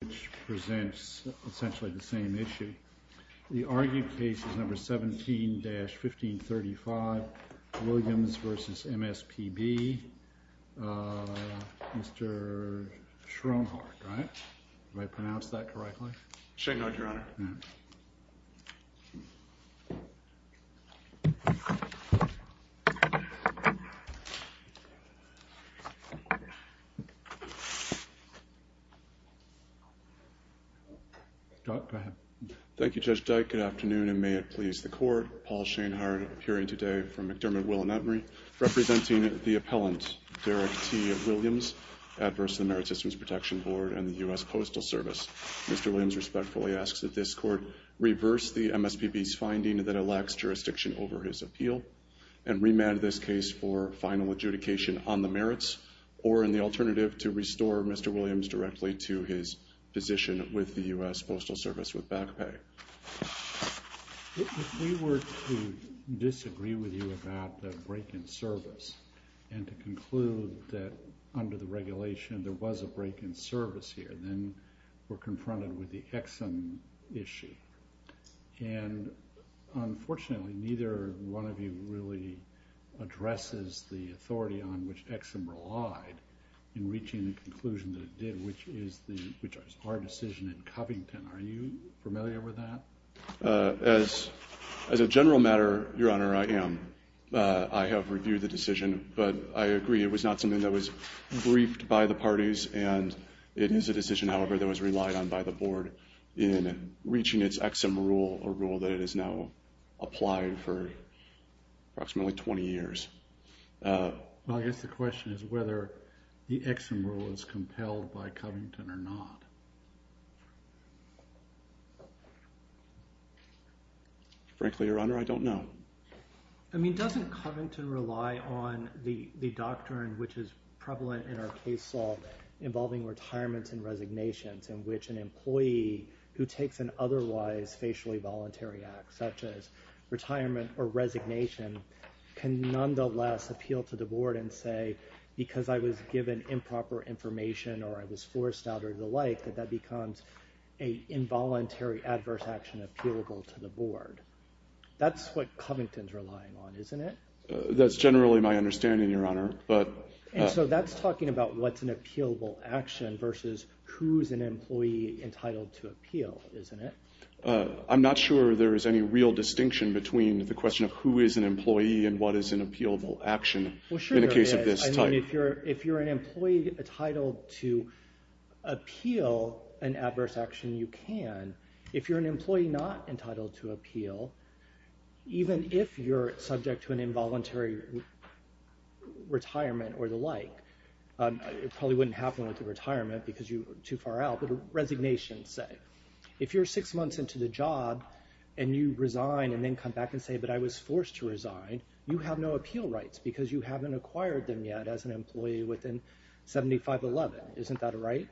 which presents essentially the same issue. The argued case is number 17-1535 Williams versus MSPB. Mr. Schoenhardt, right? Did I pronounce that correctly? Schoenhardt, your honor. Go ahead. Thank you, Judge Dyke. Good afternoon and may it please the court. Paul Schoenhardt, appearing today from McDermott, Will and Utmery, representing the appellant Derek T. Williams, adverse to the Merit Systems Protection Board and the U.S. Postal Service. Mr. Williams respectfully asks that this court reverse the MSPB's finding that it lacks jurisdiction over his appeal and remand this case for final adjudication on the merits or in the alternative to restore Mr. Williams directly to his position with the U.S. Postal Service with back pay. If we were to disagree with you about the break-in service and to conclude that under the regulation there was a break-in service here, then we're confronted with the Exum issue and unfortunately neither one of you really addresses the authority on which Exum relied in reaching the conclusion that it did, which is our decision in Covington. Are you familiar with that? As a general matter, your honor, I am. I have reviewed the decision, but I agree it was not something that was briefed by the parties and it is a decision, however, that was relied on by the board in reaching its Exum rule, a rule that it has now applied for approximately 20 years. I guess the question is whether the Exum rule is compelled by Covington or not. Frankly, your honor, I don't know. I mean doesn't Covington rely on the doctrine which is prevalent in our case law involving retirements and resignations in which an employee who takes an otherwise facially voluntary act such as a retirement or resignation can nonetheless appeal to the board and say because I was given improper information or I was forced out or the like that that becomes an involuntary adverse action appealable to the board. That's what Covington's relying on, isn't it? That's generally my understanding, your honor. And so that's talking about what's an appealable action versus who's an employee entitled to appeal, isn't it? I'm not sure there is any real distinction between the question of who is an employee and what is an appealable action in a case of this type. If you're an employee entitled to appeal an adverse action, you can. If you're an employee not entitled to appeal, even if you're subject to an involuntary retirement or the like, it probably wouldn't happen with a retirement because you're too far out, but a resignation, say. If you're six months into the job and you resign and then come back and say, but I was forced to resign, you have no appeal rights because you haven't acquired them yet as an employee within 75-11. Isn't that right?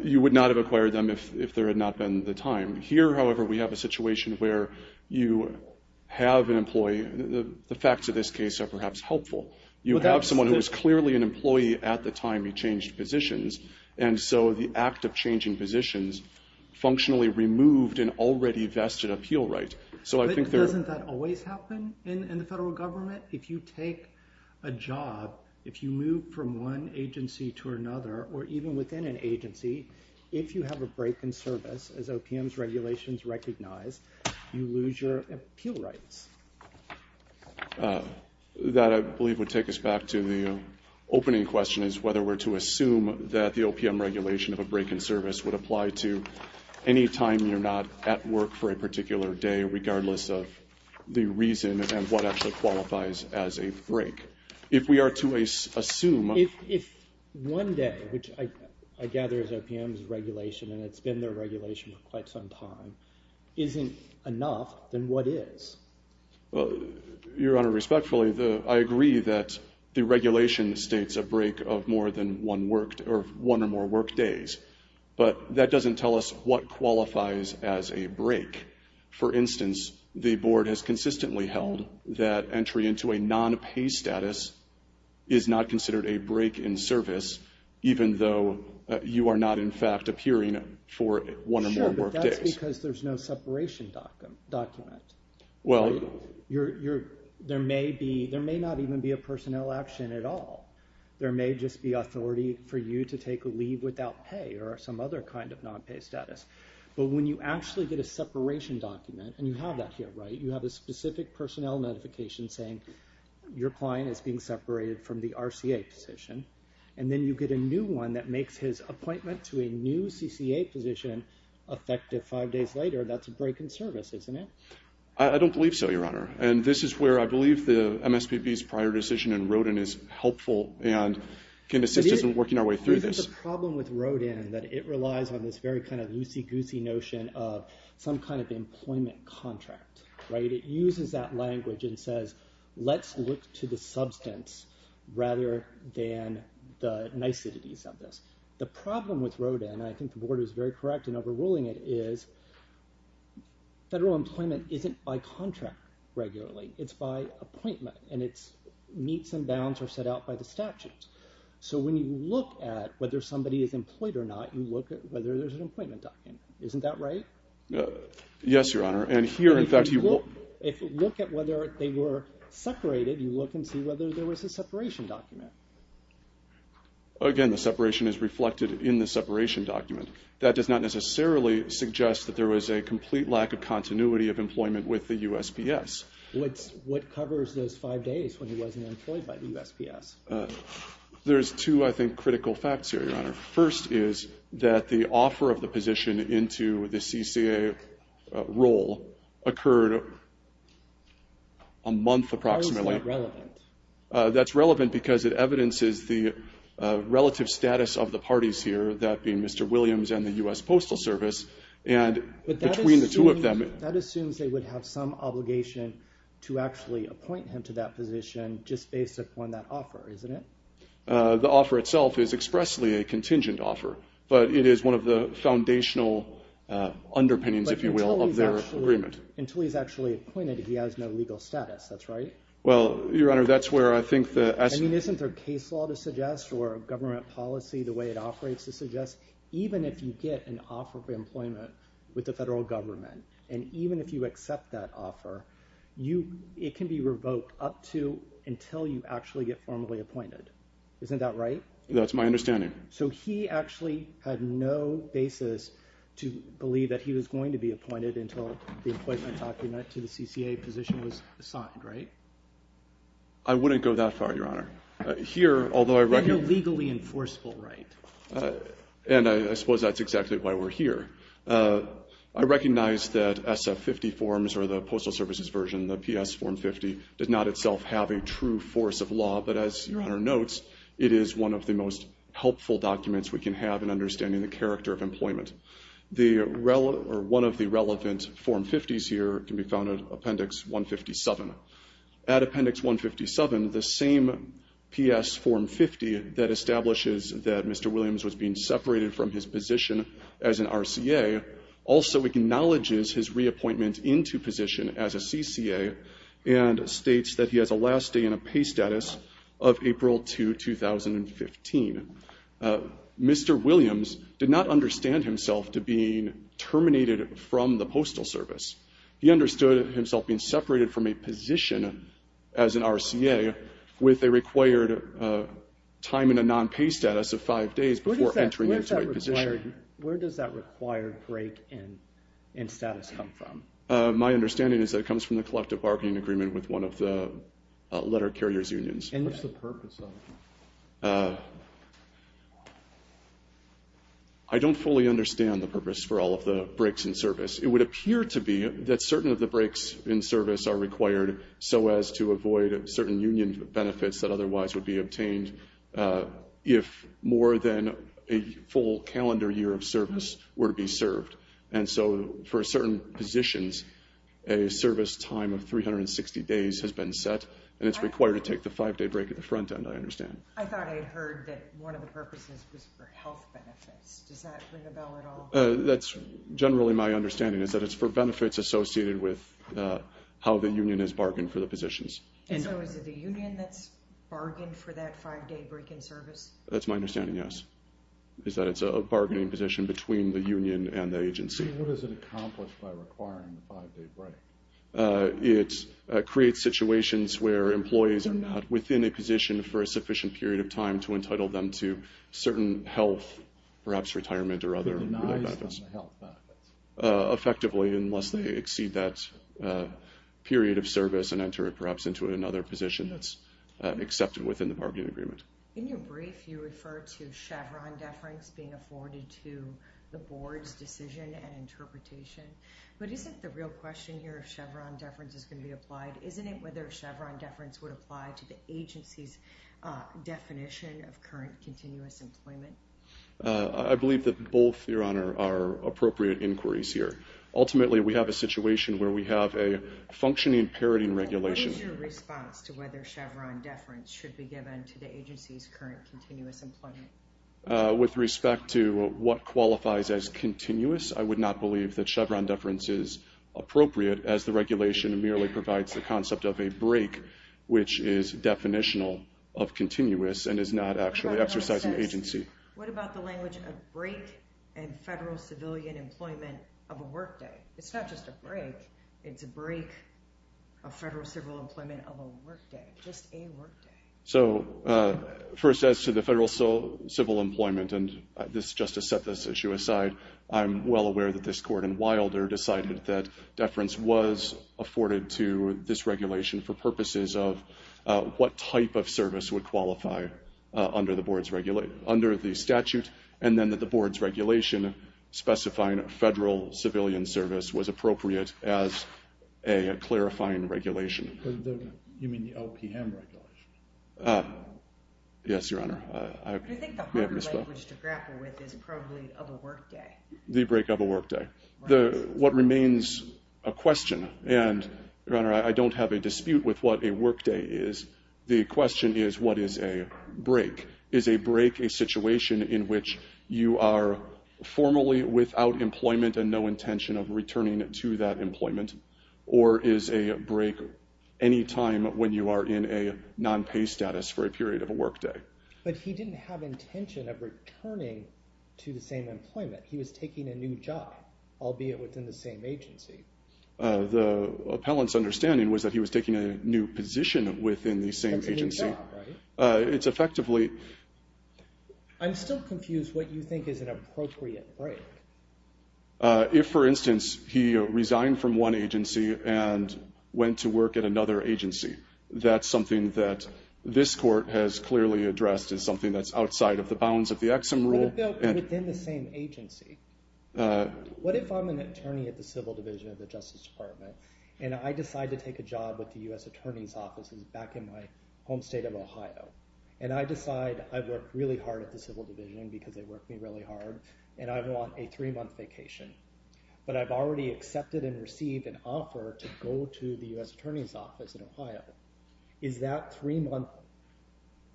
You would not have acquired them if there had not been the time. Here, however, we have a situation where you have an employee. The facts of this case are perhaps helpful. You have someone who is clearly an employee at the time he changed positions. And so the act of changing positions functionally removed an already vested appeal right. Doesn't that always happen in the federal government? If you take a job, if you move from one agency to another, or even within an agency, if you have a break in service, as OPM's regulations recognize, you lose your appeal rights. That, I believe, would take us back to the opening question, is whether we're to assume that the OPM regulation of a break in service would apply to any time you're not at work for a particular day, regardless of the reason and what actually qualifies as a break. If we are to assume... If one day, which I gather is OPM's regulation and it's been their regulation for quite some time, isn't enough, then what is? Your Honor, respectfully, I agree that the regulation states a break of more than one or more work days. But that doesn't tell us what qualifies as a break. For instance, the Board has consistently held that entry into a non-pay status is not considered a break in service, even though you are not, in fact, appearing for one or more work days. That's because there's no separation document. There may not even be a personnel action at all. There may just be authority for you to take a leave without pay or some other kind of non-pay status. But when you actually get a separation document, and you have that here, right? You have a specific personnel notification saying your client is being separated from the RCA position, and then you get a new one that makes his appointment to a new CCA position effective five days later. That's a break in service, isn't it? I don't believe so, Your Honor. And this is where I believe the MSPB's prior decision in Rodin is helpful and can assist us in working our way through this. The problem with Rodin is that it relies on this very kind of loosey-goosey notion of some kind of employment contract, right? It uses that language and says, let's look to the substance rather than the niceties of this. The problem with Rodin, and I think the Board is very correct in overruling it, is federal employment isn't by contract regularly. It's by appointment, and its meets and bounds are set out by the statutes. So when you look at whether somebody is employed or not, you look at whether there's an appointment document. Isn't that right? Yes, Your Honor. If you look at whether they were separated, you look and see whether there was a separation document. Again, the separation is reflected in the separation document. That does not necessarily suggest that there was a complete lack of continuity of employment with the USPS. What covers those five days when he wasn't employed by the USPS? There's two, I think, critical facts here, Your Honor. First is that the offer of the position into the CCA role occurred a month approximately. How is that relevant? That's relevant because it evidences the relative status of the parties here, that being Mr. Williams and the US Postal Service, and between the two of them... That assumes they would have some obligation to actually appoint him to that position just based upon that offer, isn't it? The offer itself is expressly a contingent offer, but it is one of the foundational underpinnings, if you will, of their agreement. Until he's actually appointed, he has no legal status, that's right? Well, Your Honor, that's where I think the... I mean, isn't there case law to suggest or government policy, the way it operates, to suggest even if you get an offer for employment with the federal government and even if you accept that offer, it can be revoked up to until you actually get formally appointed. Isn't that right? That's my understanding. So he actually had no basis to believe that he was going to be appointed until the appointment document to the CCA position was signed, right? I wouldn't go that far, Your Honor. Here, although I recognize... And you're legally enforceable, right? And I suppose that's exactly why we're here. I recognize that SF50 forms, or the Postal Service's version, the PS form 50, does not itself have a true force of law, but as Your Honor notes, it is one of the most helpful documents we can have in understanding the character of employment. One of the relevant form 50s here can be found in Appendix 157. At Appendix 157, the same PS form 50 that establishes that Mr. Williams was being separated from his position as an RCA also acknowledges his reappointment into position as a CCA and states that he has a last day in a pay status of April 2, 2015. Mr. Williams did not understand himself to being terminated from the Postal Service. He understood himself being separated from a position as an RCA with a required time in a non-pay status of five days before entering into a position. Where does that required break in status come from? My understanding is that it comes from the collective bargaining agreement with one of the letter carriers' unions. And what's the purpose of it? I don't fully understand the purpose for all of the breaks in service. It would appear to be that certain of the breaks in service are required so as to avoid certain union benefits that otherwise would be obtained if more than a full calendar year of service were to be served. And so for certain positions, a service time of 360 days has been set and it's required to take the five-day break at the front end, I understand. I thought I heard that one of the purposes was for health benefits. Does that ring a bell at all? That's generally my understanding, is that it's for benefits associated with how the union has bargained for the positions. And so is it the union that's bargained for that five-day break in service? That's my understanding, yes. It's that it's a bargaining position between the union and the agency. What does it accomplish by requiring the five-day break? It creates situations where employees are not within a position for a sufficient period of time to entitle them to certain health, perhaps retirement or other benefits. Effectively, unless they exceed that period of service and enter perhaps into another position that's accepted within the bargaining agreement. In your brief, you refer to Chevron deference being afforded to the board's decision and interpretation. But isn't the real question here if Chevron deference is going to be applied, isn't it whether Chevron deference would apply to the agency's definition of current continuous employment? I believe that both, Your Honor, are appropriate inquiries here. Ultimately, we have a situation where we have a functioning parroting regulation. What is your response to whether Chevron deference should be given to the agency's current continuous employment? With respect to what qualifies as continuous, I would not believe that Chevron deference is appropriate as the regulation merely provides the concept of a break, which is definitional of continuous and is not actually exercising agency. What about the language of break and federal civilian employment of a workday? It's not just a break. It's a break of federal civil employment of a workday. Just a workday. So, first, as to the federal civil employment, and this Justice set this issue aside, I'm well aware that this court in Wilder decided that deference was afforded to this regulation for purposes of what type of service would qualify under the statute, and then that the board's regulation specifying federal civilian service was appropriate as a clarifying regulation. You mean the LPM regulation? Yes, Your Honor. I think the harder language to grapple with is probably of a workday. The break of a workday. What remains a question, and Your Honor, I don't have a dispute with what a workday is. The question is, what is a break? Is a break a situation in which you are formally without employment and no intention of returning to that employment? Or is a break any time when you are in a non-pay status for a period of a workday? But he didn't have intention of returning to the same employment. He was taking a new job, albeit within the same agency. The appellant's understanding was that he was taking a new position within the same agency. It's effectively... I'm still confused what you think is an appropriate break. If, for instance, he resigned from one agency and went to work at another agency, that's something that this court has clearly addressed as something that's outside of the bounds of the Exum rule. Within the same agency. What if I'm an attorney at the Civil Division of the Justice Department, and I decide to take a job with the U.S. Attorney's Office back in my home state of Ohio? And I decide I've worked really hard at the Civil Division because they worked me really hard, and I want a three-month vacation. But I've already accepted and received an offer to go to the U.S. Attorney's Office in Ohio. Is that three-month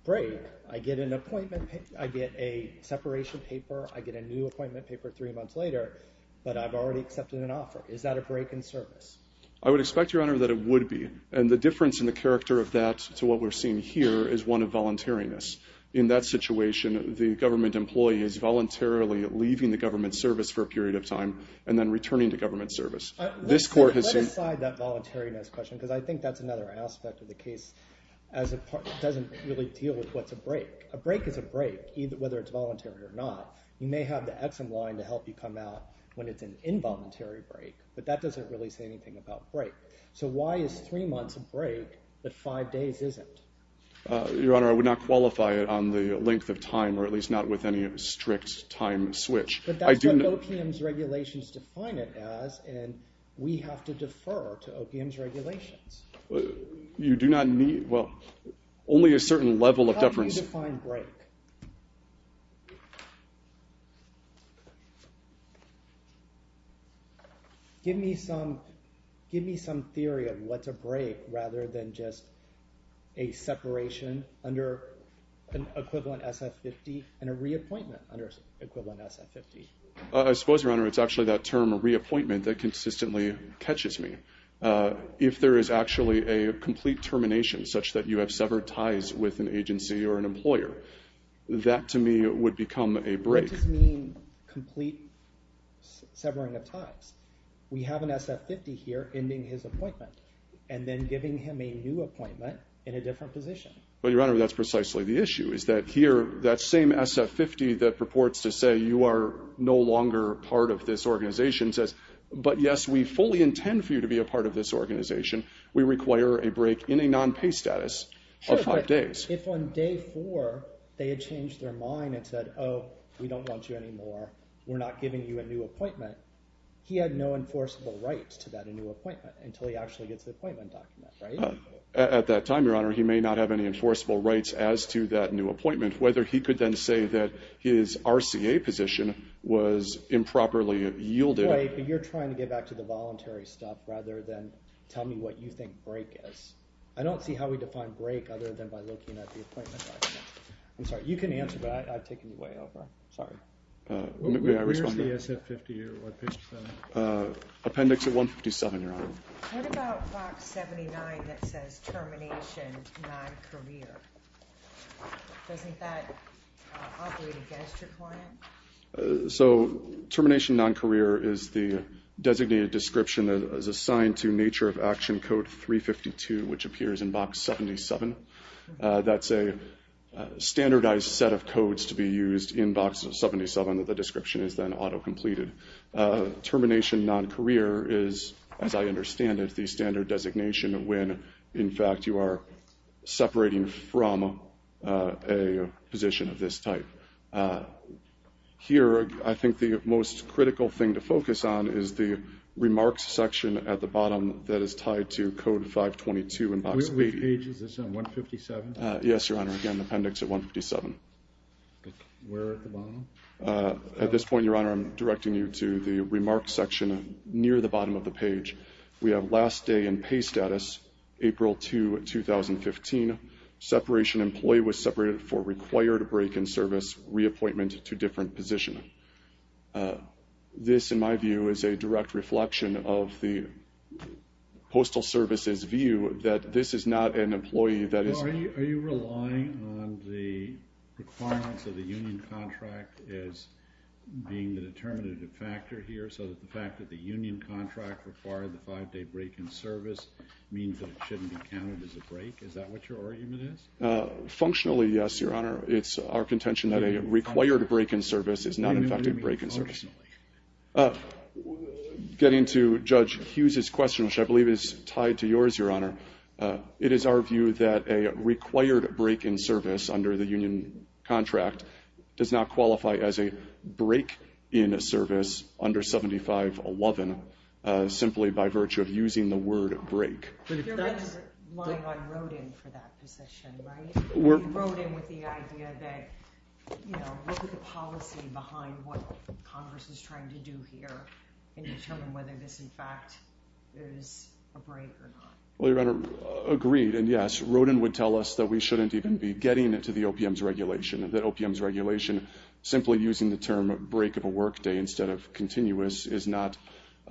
break? I get an appointment, I get a separation paper, I get a new appointment paper three months later, but I've already accepted an offer. Is that a break in service? I would expect, Your Honor, that it would be. And the difference in the character of that to what we're seeing here is one of voluntariness. In that situation, the government employee is voluntarily leaving the government service for a period of time and then returning to government service. Let aside that voluntariness question, because I think that's another aspect of the case that doesn't really deal with what's a break. A break is a break, whether it's voluntary or not. You may have the Exum line to help you come out when it's an involuntary break, but that doesn't really say anything about break. So why is three months a break, but five days isn't? Your Honor, I would not qualify it on the length of time or at least not with any strict time switch. But that's what OPM's regulations define it as, and we have to defer to OPM's regulations. You do not need... Well, only a certain level of deference... How do you define break? Give me some theory of what's a break rather than just a separation under an equivalent SF-50 and a reappointment under equivalent SF-50. I suppose, Your Honor, it's actually that term reappointment that consistently catches me. If there is actually a complete termination, such that you have severed ties with an agency or an employer, that, to me, would become a break. What does it mean, complete severing of ties? We have an SF-50 here ending his appointment and then giving him a new appointment in a different position. But, Your Honor, that's precisely the issue, is that here, that same SF-50 that purports to say you are no longer part of this organization says, but yes, we fully intend for you to be a part of this organization, we require a break in a non-pay status of five days. Sure, but if on day four they had changed their mind and said, oh, we don't want you anymore, we're not giving you a new appointment, he had no enforceable rights to that new appointment until he actually gets the appointment document, right? At that time, Your Honor, he may not have any enforceable rights as to that new appointment, whether he could then say that his RCA position was improperly yielded. Right, but you're trying to get back to the voluntary stuff rather than tell me what you think break is. I don't see how we define break other than by looking at the appointment document. I'm sorry, you can answer, but I've taken you way over. Where's the SF-50 here? Appendix 157, Your Honor. What about box 79 that says, Termination Non-Career? Doesn't that operate against your client? So, Termination Non-Career is the designated description that is assigned to Nature of Action Code 352, which appears in box 77. That's a standardized set of codes to be used in box 77. The description is then auto-completed. Termination Non-Career is, as I understand it, the standard designation when, in fact, you are separating from a position of this type. Here, I think the most critical thing to focus on is the Remarks section at the bottom that is tied to Code 522 in box 80. Which page is this, on 157? Yes, Your Honor, again, Appendix 157. Where at the bottom? At this point, Your Honor, I'm directing you to the Remarks section near the bottom of the page. We have, Last day in pay status, April 2, 2015. Separation employee was separated for required break in service, reappointment to different position. This, in my view, is a direct reflection of the Postal Service's view that this is not an employee that is... Are you relying on the requirements of the union contract as being the determinative factor here, so that the fact that the union contract required the five-day break in service means that it shouldn't be counted as a break? Is that what your argument is? Functionally, yes, Your Honor. It's our contention that a required break in service is not an effective break in service. Getting to Judge Hughes' question, which I believe is tied to yours, Your Honor, it is our view that a required break in service under the union contract does not qualify as a break in service under 7511 simply by virtue of using the word break. You're relying on Rodin for that position, right? Rodin with the idea that look at the policy behind what Congress is trying to do here and determine whether this, in fact, is a break or not. Well, Your Honor, agreed, and yes, Rodin would tell us that we shouldn't even be getting to the OPM's regulation, that OPM's regulation, simply using the term break of a workday instead of continuous, is not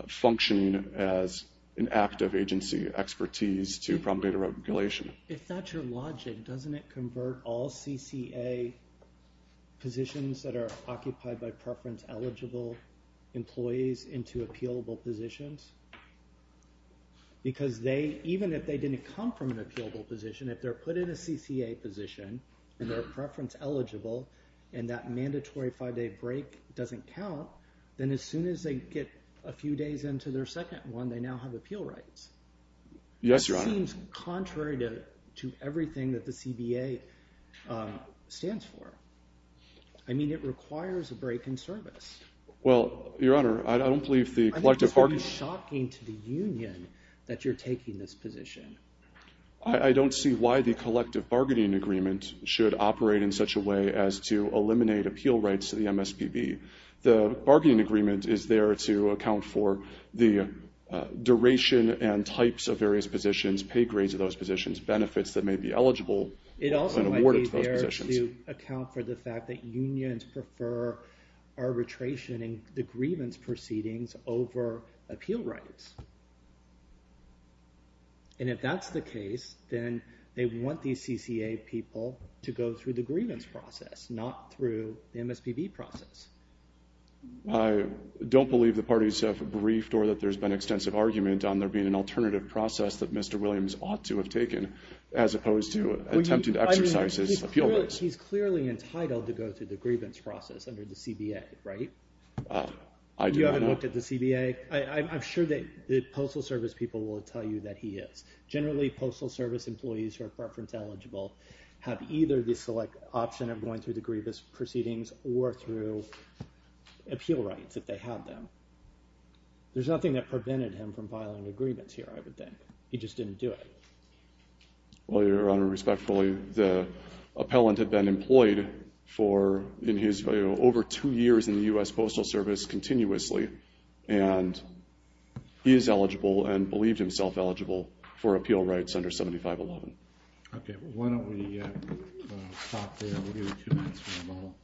functioning as an act of agency expertise to promulgate a regulation. If that's your logic, doesn't it convert all CCA positions that are occupied by preference-eligible employees into appealable positions? Because they, even if they didn't come from an appealable position, if they're put in a CCA position and they're preference-eligible and that mandatory five-day break doesn't count, then as soon as they get a few days into their second one, they now have appeal rights. It seems contrary to everything that the CBA stands for. I mean, it requires a break in service. Well, Your Honor, I don't believe the collective bargaining... I think it's very shocking to the union that you're taking this position. I don't see why the collective bargaining agreement should operate in such a way as to The bargaining agreement is there to account for the duration and types of various positions, pay grades of those positions, benefits that may be eligible and awarded to those positions. It also might be there to account for the fact that unions prefer arbitration in the grievance proceedings over appeal rights. And if that's the case, then they want these CCA people to go through the grievance process, not through the MSPB process. I don't believe the parties have briefed or that there's been extensive argument on there being an alternative process that Mr. Williams ought to have taken, as opposed to attempting to exercise his appeal rights. He's clearly entitled to go through the grievance process under the CBA, right? I do not. You haven't looked at the CBA? I'm sure that the Postal Service people will tell you that he is. Generally, Postal Service employees who are preference-eligible have either the select option of going through the grievance proceedings or through appeal rights if they have them. There's nothing that prevented him from filing agreements here, I would think. He just didn't do it. Well, Your Honor, respectfully, the appellant had been employed for over two years in the U.S. Postal Service continuously, and he is eligible and believed himself eligible for appeal rights under 7511. Okay, why don't we stop there? We'll give you two minutes for a moment.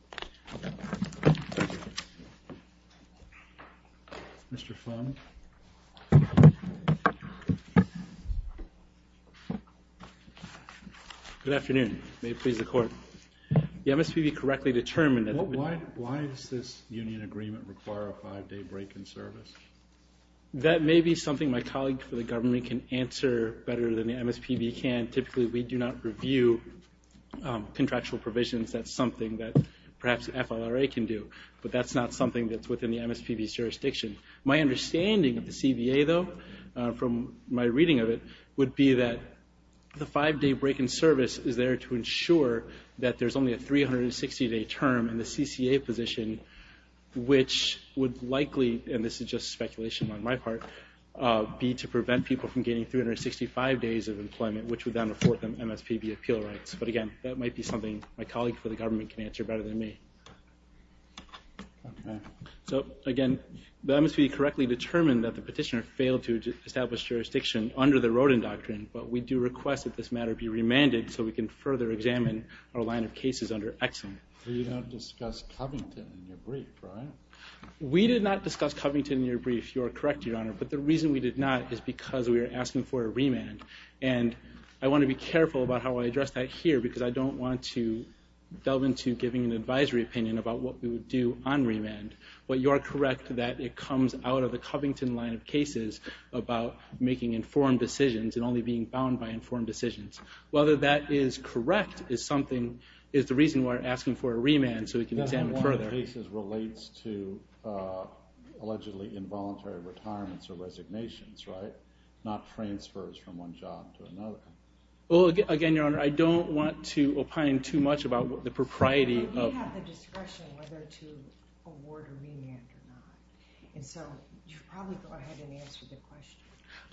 Good afternoon. May it please the Court. The MSPB correctly determined that... Why does this union agreement require a five-day break in service? That may be something my colleague for the government can answer better than the MSPB can. Typically, we do not review contractual provisions. That's something that perhaps FLRA can do, but that's not something that's within the MSPB's jurisdiction. My understanding of the CBA, though, from my reading of it, would be that the five-day break in service is there to ensure that there's only a 360-day term in the CCA position, which would likely, and this is just speculation on my part, be to prevent people from getting 365 days of employment, which would then afford them MSPB appeal rights. But again, that might be something my colleague for the government can answer better than me. So, again, the MSPB correctly determined that the petitioner failed to establish jurisdiction under the Rodin Doctrine, but we do request that this matter be remanded so we can further examine our line of cases under Exum. We did not discuss Covington in your brief. You are correct, Your Honor, but the reason we did not is because we were asking for a remand, and I want to be careful about how I address that here, because I don't want to delve into giving an advisory opinion about what we would do on remand. But you are correct that it comes out of the Covington line of cases about making informed decisions and only being bound by informed decisions. Whether that is correct is the reason we are asking for a remand so we can examine it further. The line of cases relates to allegedly involuntary retirements or resignations, right? Not transfers from one job to another. Again, Your Honor, I don't want to opine too much about the propriety of... We have the discretion whether to award a remand or not. So you should probably go ahead and answer the question.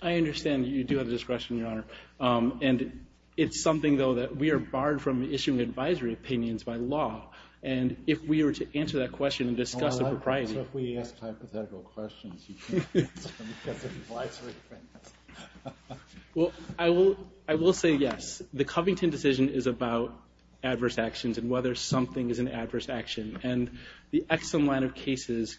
I understand that you do have the discretion, Your Honor, and it's something, though, that we are barred from issuing advisory opinions by law, and if we were to answer that question and discuss the propriety... So if we asked hypothetical questions... Well, I will say yes. The Covington decision is about adverse actions and whether something is an adverse action, and the Exum line of cases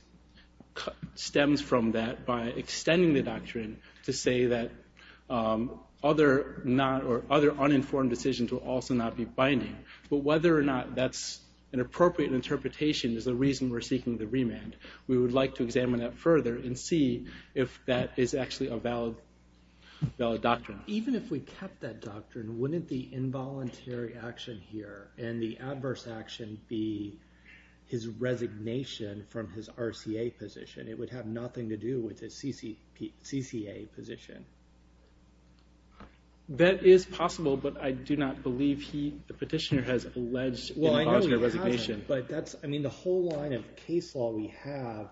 stems from that by extending the doctrine to say that other uninformed decisions will also not be binding. But whether or not that's an appropriate interpretation is the reason we're seeking the remand. We would like to examine that further and see if that is actually a valid doctrine. Even if we kept that doctrine, wouldn't the involuntary action here and the adverse action be his resignation from his RCA position? It would have nothing to do with his CCA position. That is possible, but I do not believe the petitioner has alleged involuntary resignation. The whole line of case law we have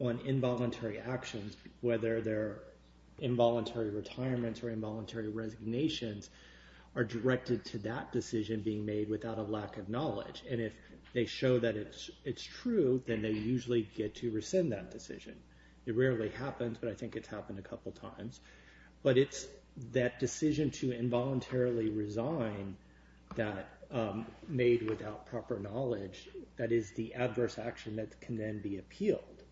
on involuntary actions, whether they're involuntary retirements or involuntary resignations, are directed to that decision being made without a lack of knowledge, and if they show that it's true, then they usually get to rescind that decision. It rarely happens, but I think it's happened a couple times. But it's that decision to involuntarily resign made without proper knowledge that is the adverse action that can then be appealed.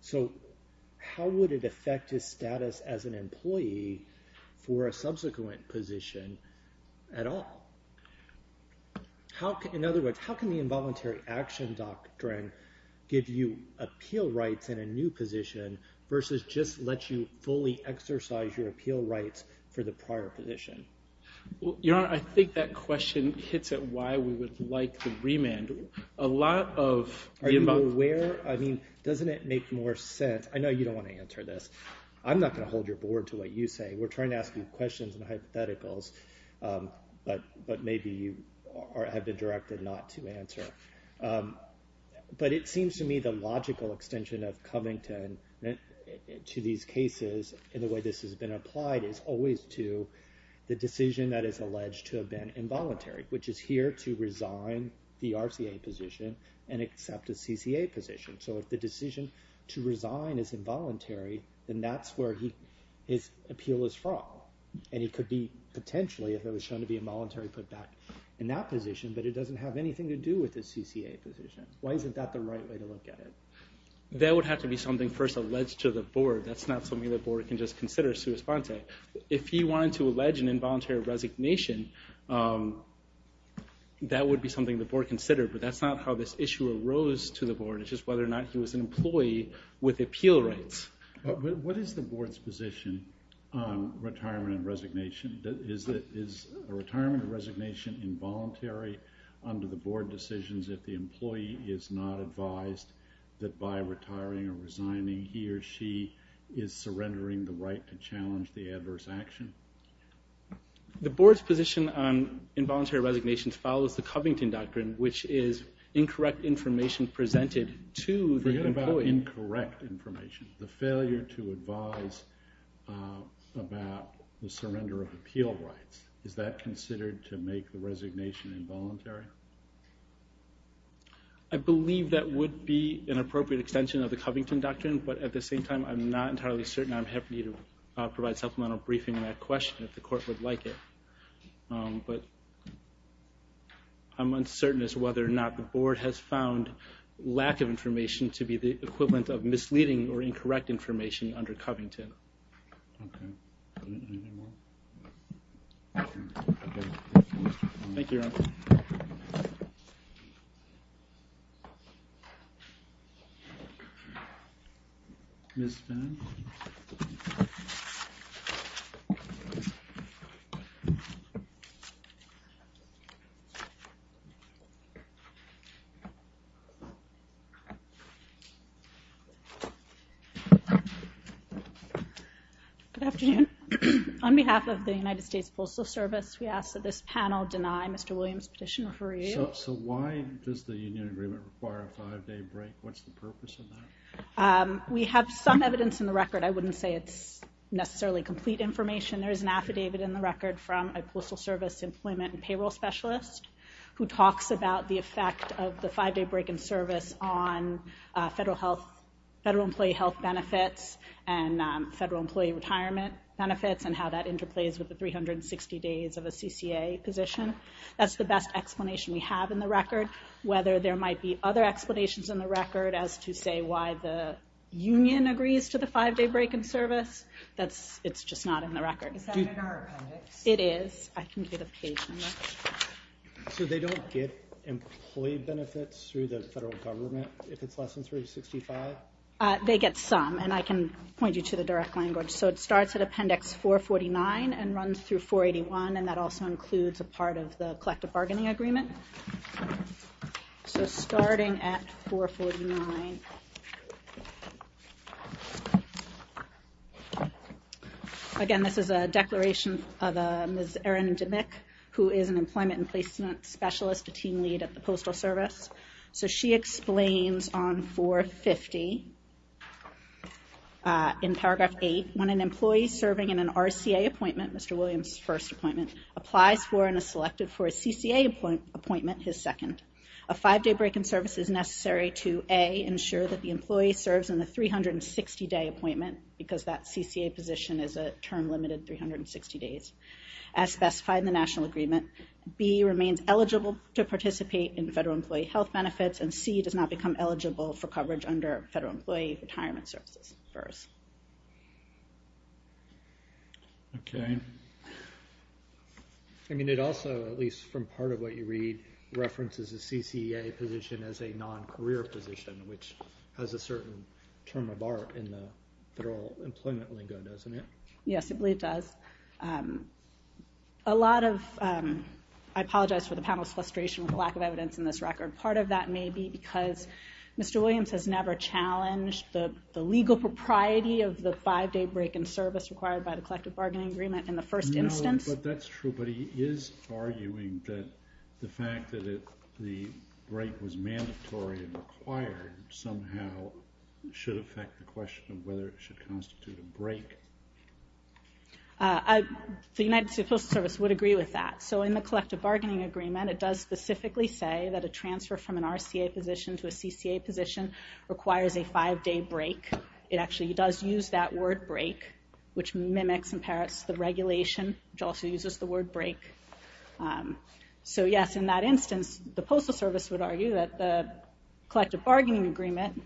So how would it affect his status as an employee for a subsequent position at all? In other words, how can the involuntary action doctrine give you appeal rights in a new position versus just let you fully exercise your appeal rights for the prior position? Your Honor, I think that question hits at why we would like the remand. Are you aware? I mean, doesn't it make more sense? I know you don't want to answer this. I'm not going to hold your board to what you say. We're trying to ask you questions and hypotheticals, but maybe you have been directed not to answer. But it seems to me the logical extension of Covington to these cases and the way this has been applied is always to the decision that is alleged to have been involuntary, which is here to resign the RCA position and accept a CCA position. So if the that's where his appeal is from. And he could be potentially, if it was shown to be involuntary, put back in that position, but it doesn't have anything to do with his CCA position. Why isn't that the right way to look at it? That would have to be something first alleged to the board. That's not something the board can just consider sua sponte. If he wanted to allege an involuntary resignation, that would be something the board considered, but that's not how this issue arose to the board. It's just whether or not he was an employee with appeal rights. What is the board's position on retirement and resignation? Is a retirement and resignation involuntary under the board decisions if the employee is not advised that by retiring or resigning, he or she is surrendering the right to challenge the adverse action? The board's position on involuntary resignation follows the Covington doctrine, which is about incorrect information. The failure to advise about the surrender of appeal rights. Is that considered to make the resignation involuntary? I believe that would be an appropriate extension of the Covington doctrine, but at the same time I'm not entirely certain I'm happy to provide supplemental briefing on that question if the court would like it. I'm uncertain as to whether or not the board has found lack of information to be the equivalent of misleading or incorrect information under Covington. Thank you. Good afternoon. On behalf of the United States Postal Service, we ask that this panel deny Mr. Williams' petition for review. So why does the union agreement require a five day break? What's the purpose of that? We have some evidence in the record. I wouldn't say it's necessarily complete information. There is an affidavit in the record from a postal service employment and payroll specialist who talks about the five day break in service on federal health federal employee health benefits and federal employee retirement benefits and how that interplays with the 360 days of a CCA position. That's the best explanation we have in the record. Whether there might be other explanations in the record as to say why the union agrees to the five day break in service it's just not in the record. Is that in our appendix? It is. I can give you the page number. So they don't get employee benefits through the federal government if it's less than 365? They get some and I can point you to the direct language. So it starts at appendix 449 and runs through 481 and that also includes a part of the collective bargaining agreement. So starting at 449 Again, this is a declaration of Ms. Erin Dimmick who is an employment and placement specialist a team lead at the postal service. So she explains on 450 in paragraph 8 when an employee serving in an RCA appointment Mr. Williams' first appointment, applies for and is selected for a CCA appointment, his second. A five day break in service is necessary to A, ensure that the employee serves in the 360 day appointment because that CCA position is a term limited 360 days as specified in the national agreement B, remains eligible to participate in federal employee health benefits and C, does not become eligible for coverage under federal employee retirement services. I mean it also, at least from part of what you read references the CCA position as a non-career position, which has a certain term of art in the federal employment lingo, doesn't it? Yes, I believe it does. A lot of, I apologize for the panel's frustration with the lack of evidence in this record. Part of that may be because Mr. Williams has never challenged the legal propriety of the five day break in service required by the collective bargaining agreement in the first instance. But that's true, but he is arguing that the fact that the break was mandatory and required somehow should affect the question of whether it should constitute a break. The United States Postal Service would agree with that. So in the collective bargaining agreement it does specifically say that a transfer from an RCA position to a CCA position requires a five day break. It actually does use that word break which mimics in Paris the regulation which also uses the word break. So yes, in that instance the Postal Service would argue that the collective bargaining agreement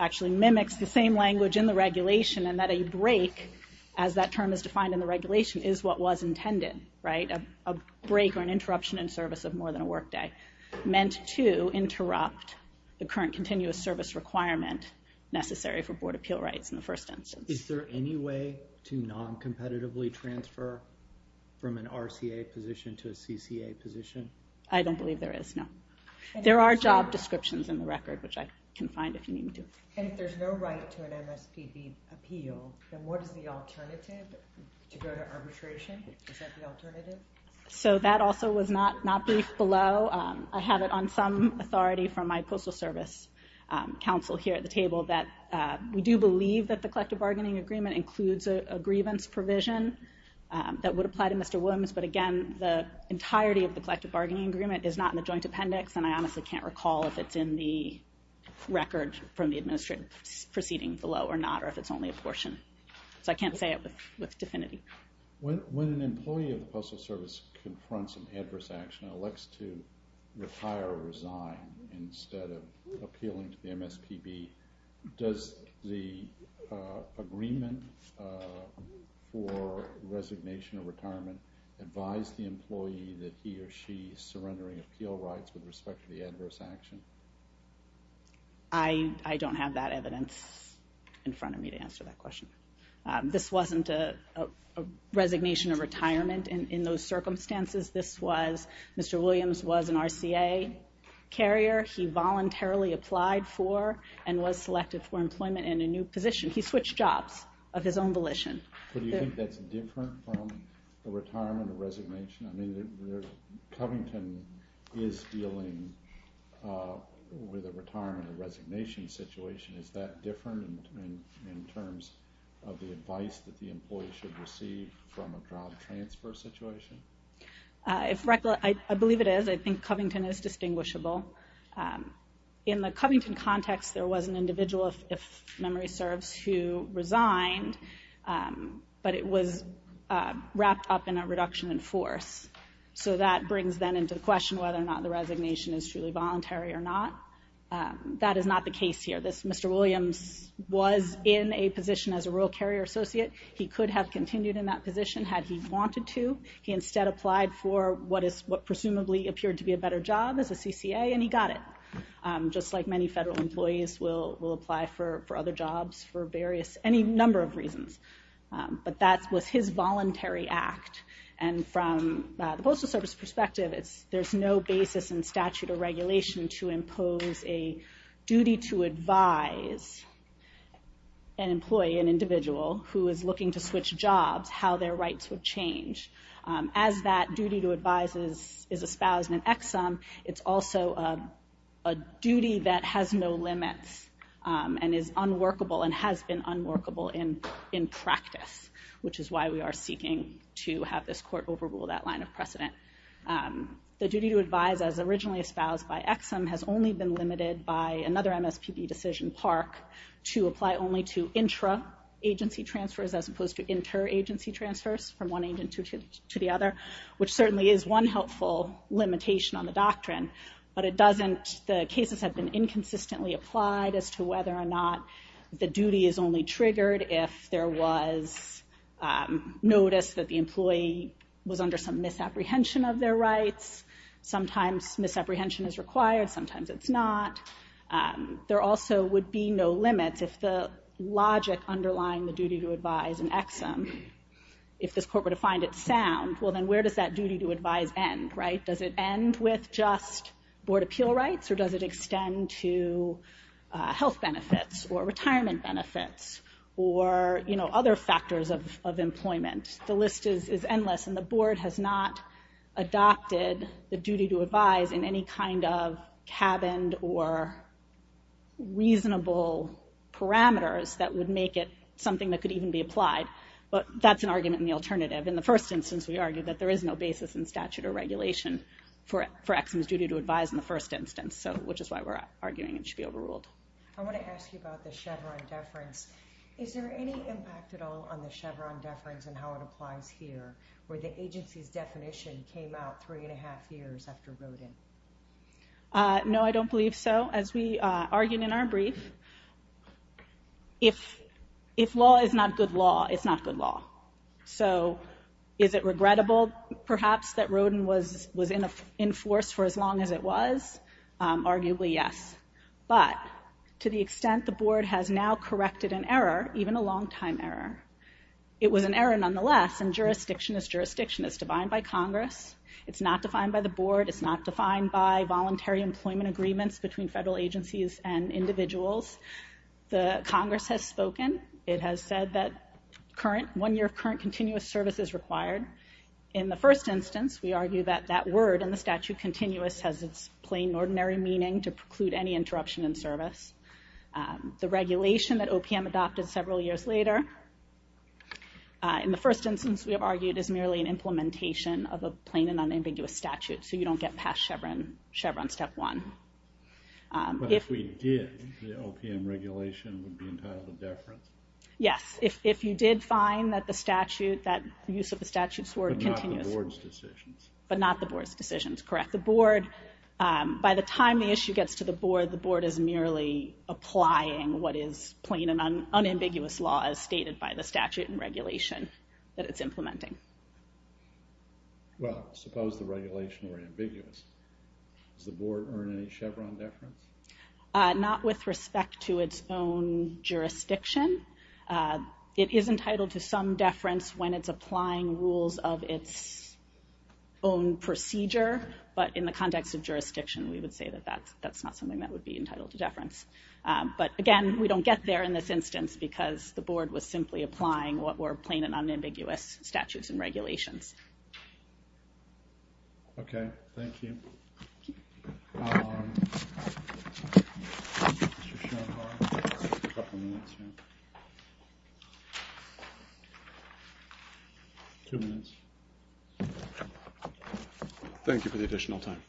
actually mimics the same language in the regulation and that a break, as that term is defined in the regulation is what was intended, right? A break or an interruption in service of more than a work day meant to interrupt the current continuous service requirement necessary for board appeal rights in the first instance. Is there any way to non-competitively transfer from an RCA position to a CCA position? I don't believe there is, no. There are job descriptions in the record which I can find if you need me to. And if there's no right to an MSPB appeal then what is the alternative to go to arbitration? Is that the alternative? So that also was not briefed below. I have it on some authority from my Postal Service counsel here at the table that we do believe that the collective bargaining agreement includes a grievance provision that would apply to Mr. Williams, but again the entirety of the collective bargaining agreement is not in the joint appendix and I honestly can't recall if it's in the record from the administrative proceeding below or not, or if it's only a portion. So I can't say it with definity. When an employee of the Postal Service confronts an adverse action and elects to retire or resign instead of appealing to the MSPB does the agreement for resignation or retirement advise the employee that he or she is surrendering appeal rights with respect to the adverse action? I don't have that evidence in front of me to answer that question. This wasn't a resignation or retirement in those circumstances. Mr. Williams was an RCA carrier. He voluntarily applied for and was selected for employment in a new position. He switched jobs of his own volition. Do you think that's different from a retirement or resignation? I mean, Covington is dealing with a retirement or resignation situation. Is that different in terms of the advice that the employee should receive from a job transfer situation? I believe it is. I think Covington is distinguishable. In the Covington context, there was an individual if memory serves, who resigned but it was wrapped up in a reduction in force. So that brings then into the question whether or not the resignation is truly voluntary or not. That is not the case here. Mr. Williams was in a position as a Royal Carrier Associate. He could have continued in that position had he wanted to. He instead applied for what presumably appeared to be a better job as a CCA and he got it. Just like many federal employees will apply for other jobs for any number of reasons. But that was his voluntary act and from the Postal Service perspective there's no basis in statute or regulation to impose a duty to advise an employee, an individual, who is looking to switch jobs, how their rights would change. As that duty to advise is espoused in Exum, it's also a duty that has no limits and is unworkable and has been unworkable in practice. Which is why we are seeking to have this court overrule that line of precedent. The duty to advise as originally espoused by Exum has only been limited by another MSPB decision, Park, to apply only to intra agency transfers as opposed to inter agency transfers from one agency to the other. Which certainly is one helpful limitation on the doctrine. The cases have been inconsistently applied as to whether or not the duty is only triggered if there was notice that the employee was under some misapprehension of their rights. Sometimes misapprehension is required sometimes it's not. There also would be no limits if the logic underlying the duty to advise in Exum, if this court were to find it sound, well then where does that duty to advise end? Does it end with just board appeal rights or does it extend to health benefits or retirement benefits or other factors of employment? The list is endless and the board has not adopted the duty to advise in any kind of cabined or reasonable parameters that would make it something that could even be applied. But that's an argument in the alternative. In the first instance we argued that there is no basis in statute or regulation for Exum's duty to advise in the first instance. Which is why we are arguing it should be overruled. I want to ask you about the Chevron deference. Is there any impact at all on the Chevron deference and how it applies here where the agency's definition came out three and a half years after Rodin? No I don't believe so. As we argued in our brief, if law is not good law, it's not good law. So is it regrettable perhaps that Rodin was in force for as long as it was? Arguably yes. But to the extent the board has now corrected an error, even a long time error. It was an error nonetheless and jurisdiction is jurisdiction. It's defined by Congress. It's not defined by the board. It's not defined by voluntary employment agreements between federal agencies and individuals. The Congress has spoken. It has said that one year of current continuous service is required. In the first instance we argue that that word in the statute continuous has its plain ordinary meaning to preclude any interruption in service. The regulation that OPM adopted several years later in the first instance we have argued is merely an implementation of a plain and unambiguous statute. So you don't get past Chevron step one. But if we did, the OPM regulation would be entitled a deference? Yes. If you did find that the statute, that use of the statute's word continuous. But not the board's decisions? But not the board's decisions, correct. The board, by the time the issue gets to the board, the board is merely applying what is plain and unambiguous law as stated by the statute and regulation that it's implementing. Well, suppose the regulation were ambiguous. Does the board earn any Chevron deference? Not with respect to its own jurisdiction. It is entitled to some deference when it's applying rules of its own procedure. But in the context of jurisdiction we would say that that's not something that would be entitled to deference. But again, we don't get there in this instance because the board was simply applying what were plain and unambiguous statutes and regulations. Okay. Thank you. How long? Mr. Schoenhardt? A couple minutes, yeah. Two minutes. Thank you for the additional time.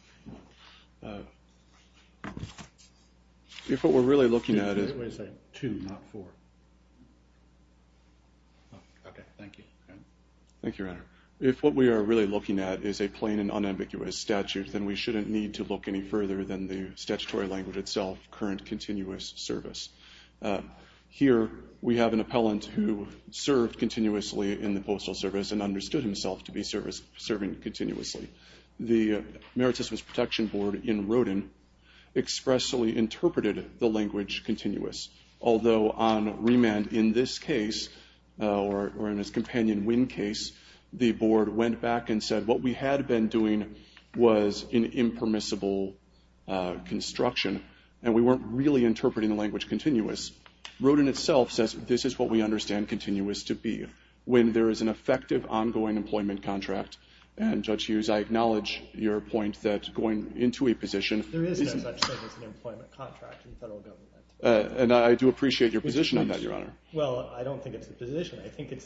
If what we're really looking at is Wait a second. Two, not four. Okay. Thank you. Thank you, Your Honor. If what we are really looking at is a plain and unambiguous statute, then we shouldn't need to look any further than the statutory language itself, current continuous service. Here we have an appellant who served continuously in the Postal Service and understood himself to be serving continuously. The Merit Systems Protection Board in Rodin expressly interpreted the language continuous. Although on remand in this case, or in his companion Wynn case, the board went back and said what we had been doing was an impermissible construction, and we weren't really interpreting the language continuous. Rodin itself says this is what we understand continuous to be. When there is an effective ongoing employment contract, and Judge Hughes, I acknowledge your point that going into a position... There is no such thing as an employment contract in federal government. And I do appreciate your position on that, Your Honor. Well, I don't think it's a position. I think it's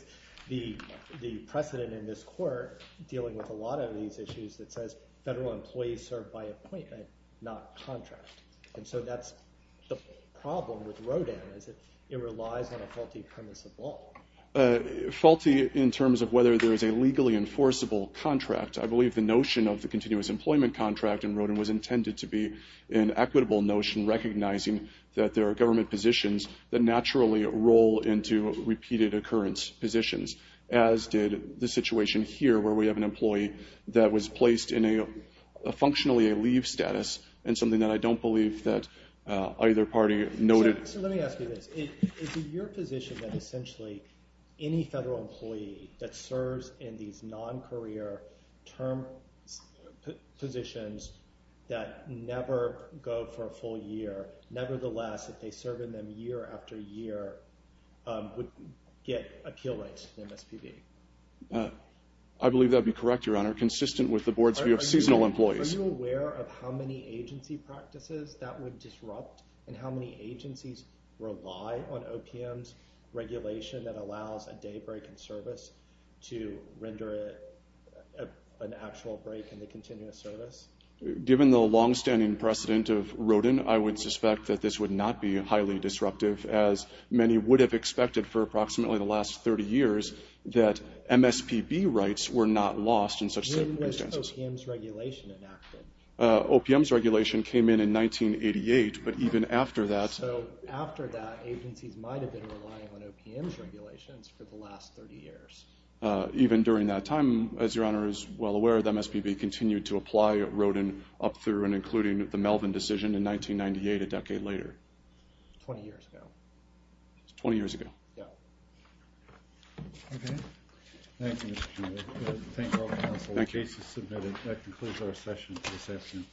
the precedent in this Court dealing with a lot of these issues that says federal employees serve by appointment not contract. And so that's the problem with Rodin is that it relies on a faulty premise of law. Faulty in terms of whether there is a legally enforceable contract. I believe the notion of the continuous employment contract in Rodin was intended to be an equitable notion recognizing that there are government positions that naturally roll into repeated occurrence positions. As did the situation here where we have an employee that was placed in a functionally a leave status and something that I don't believe that either party noted. So let me ask you this. Is it your position that essentially any federal employee that serves in these non-career term positions that never go for a full year nevertheless if they serve in them year after year would get appeal rights to the MSPB? I believe that would be correct, Your Honor. Consistent with the Board's view of seasonal employees. Are you aware of how many agency practices that would disrupt and how many agencies rely on OPM's regulation that allows a day break in service to render an actual break in the continuous service? Given the longstanding precedent of Rodin I would suspect that this would not be highly disruptive as many would have expected for approximately the last 30 years that MSPB rights were not lost in such circumstances. When was OPM's regulation enacted? OPM's regulation came in in 1988 but even after that agencies might have been relying on OPM's regulations for the last 30 years. Even during that time as Your Honor is well aware the MSPB continued to apply Rodin up through and including the Melvin decision in 1998 a decade later. 20 years ago. 20 years ago. Okay. Thank you Mr. Schindler. Thank all counsel. The case is submitted. That concludes our session this afternoon.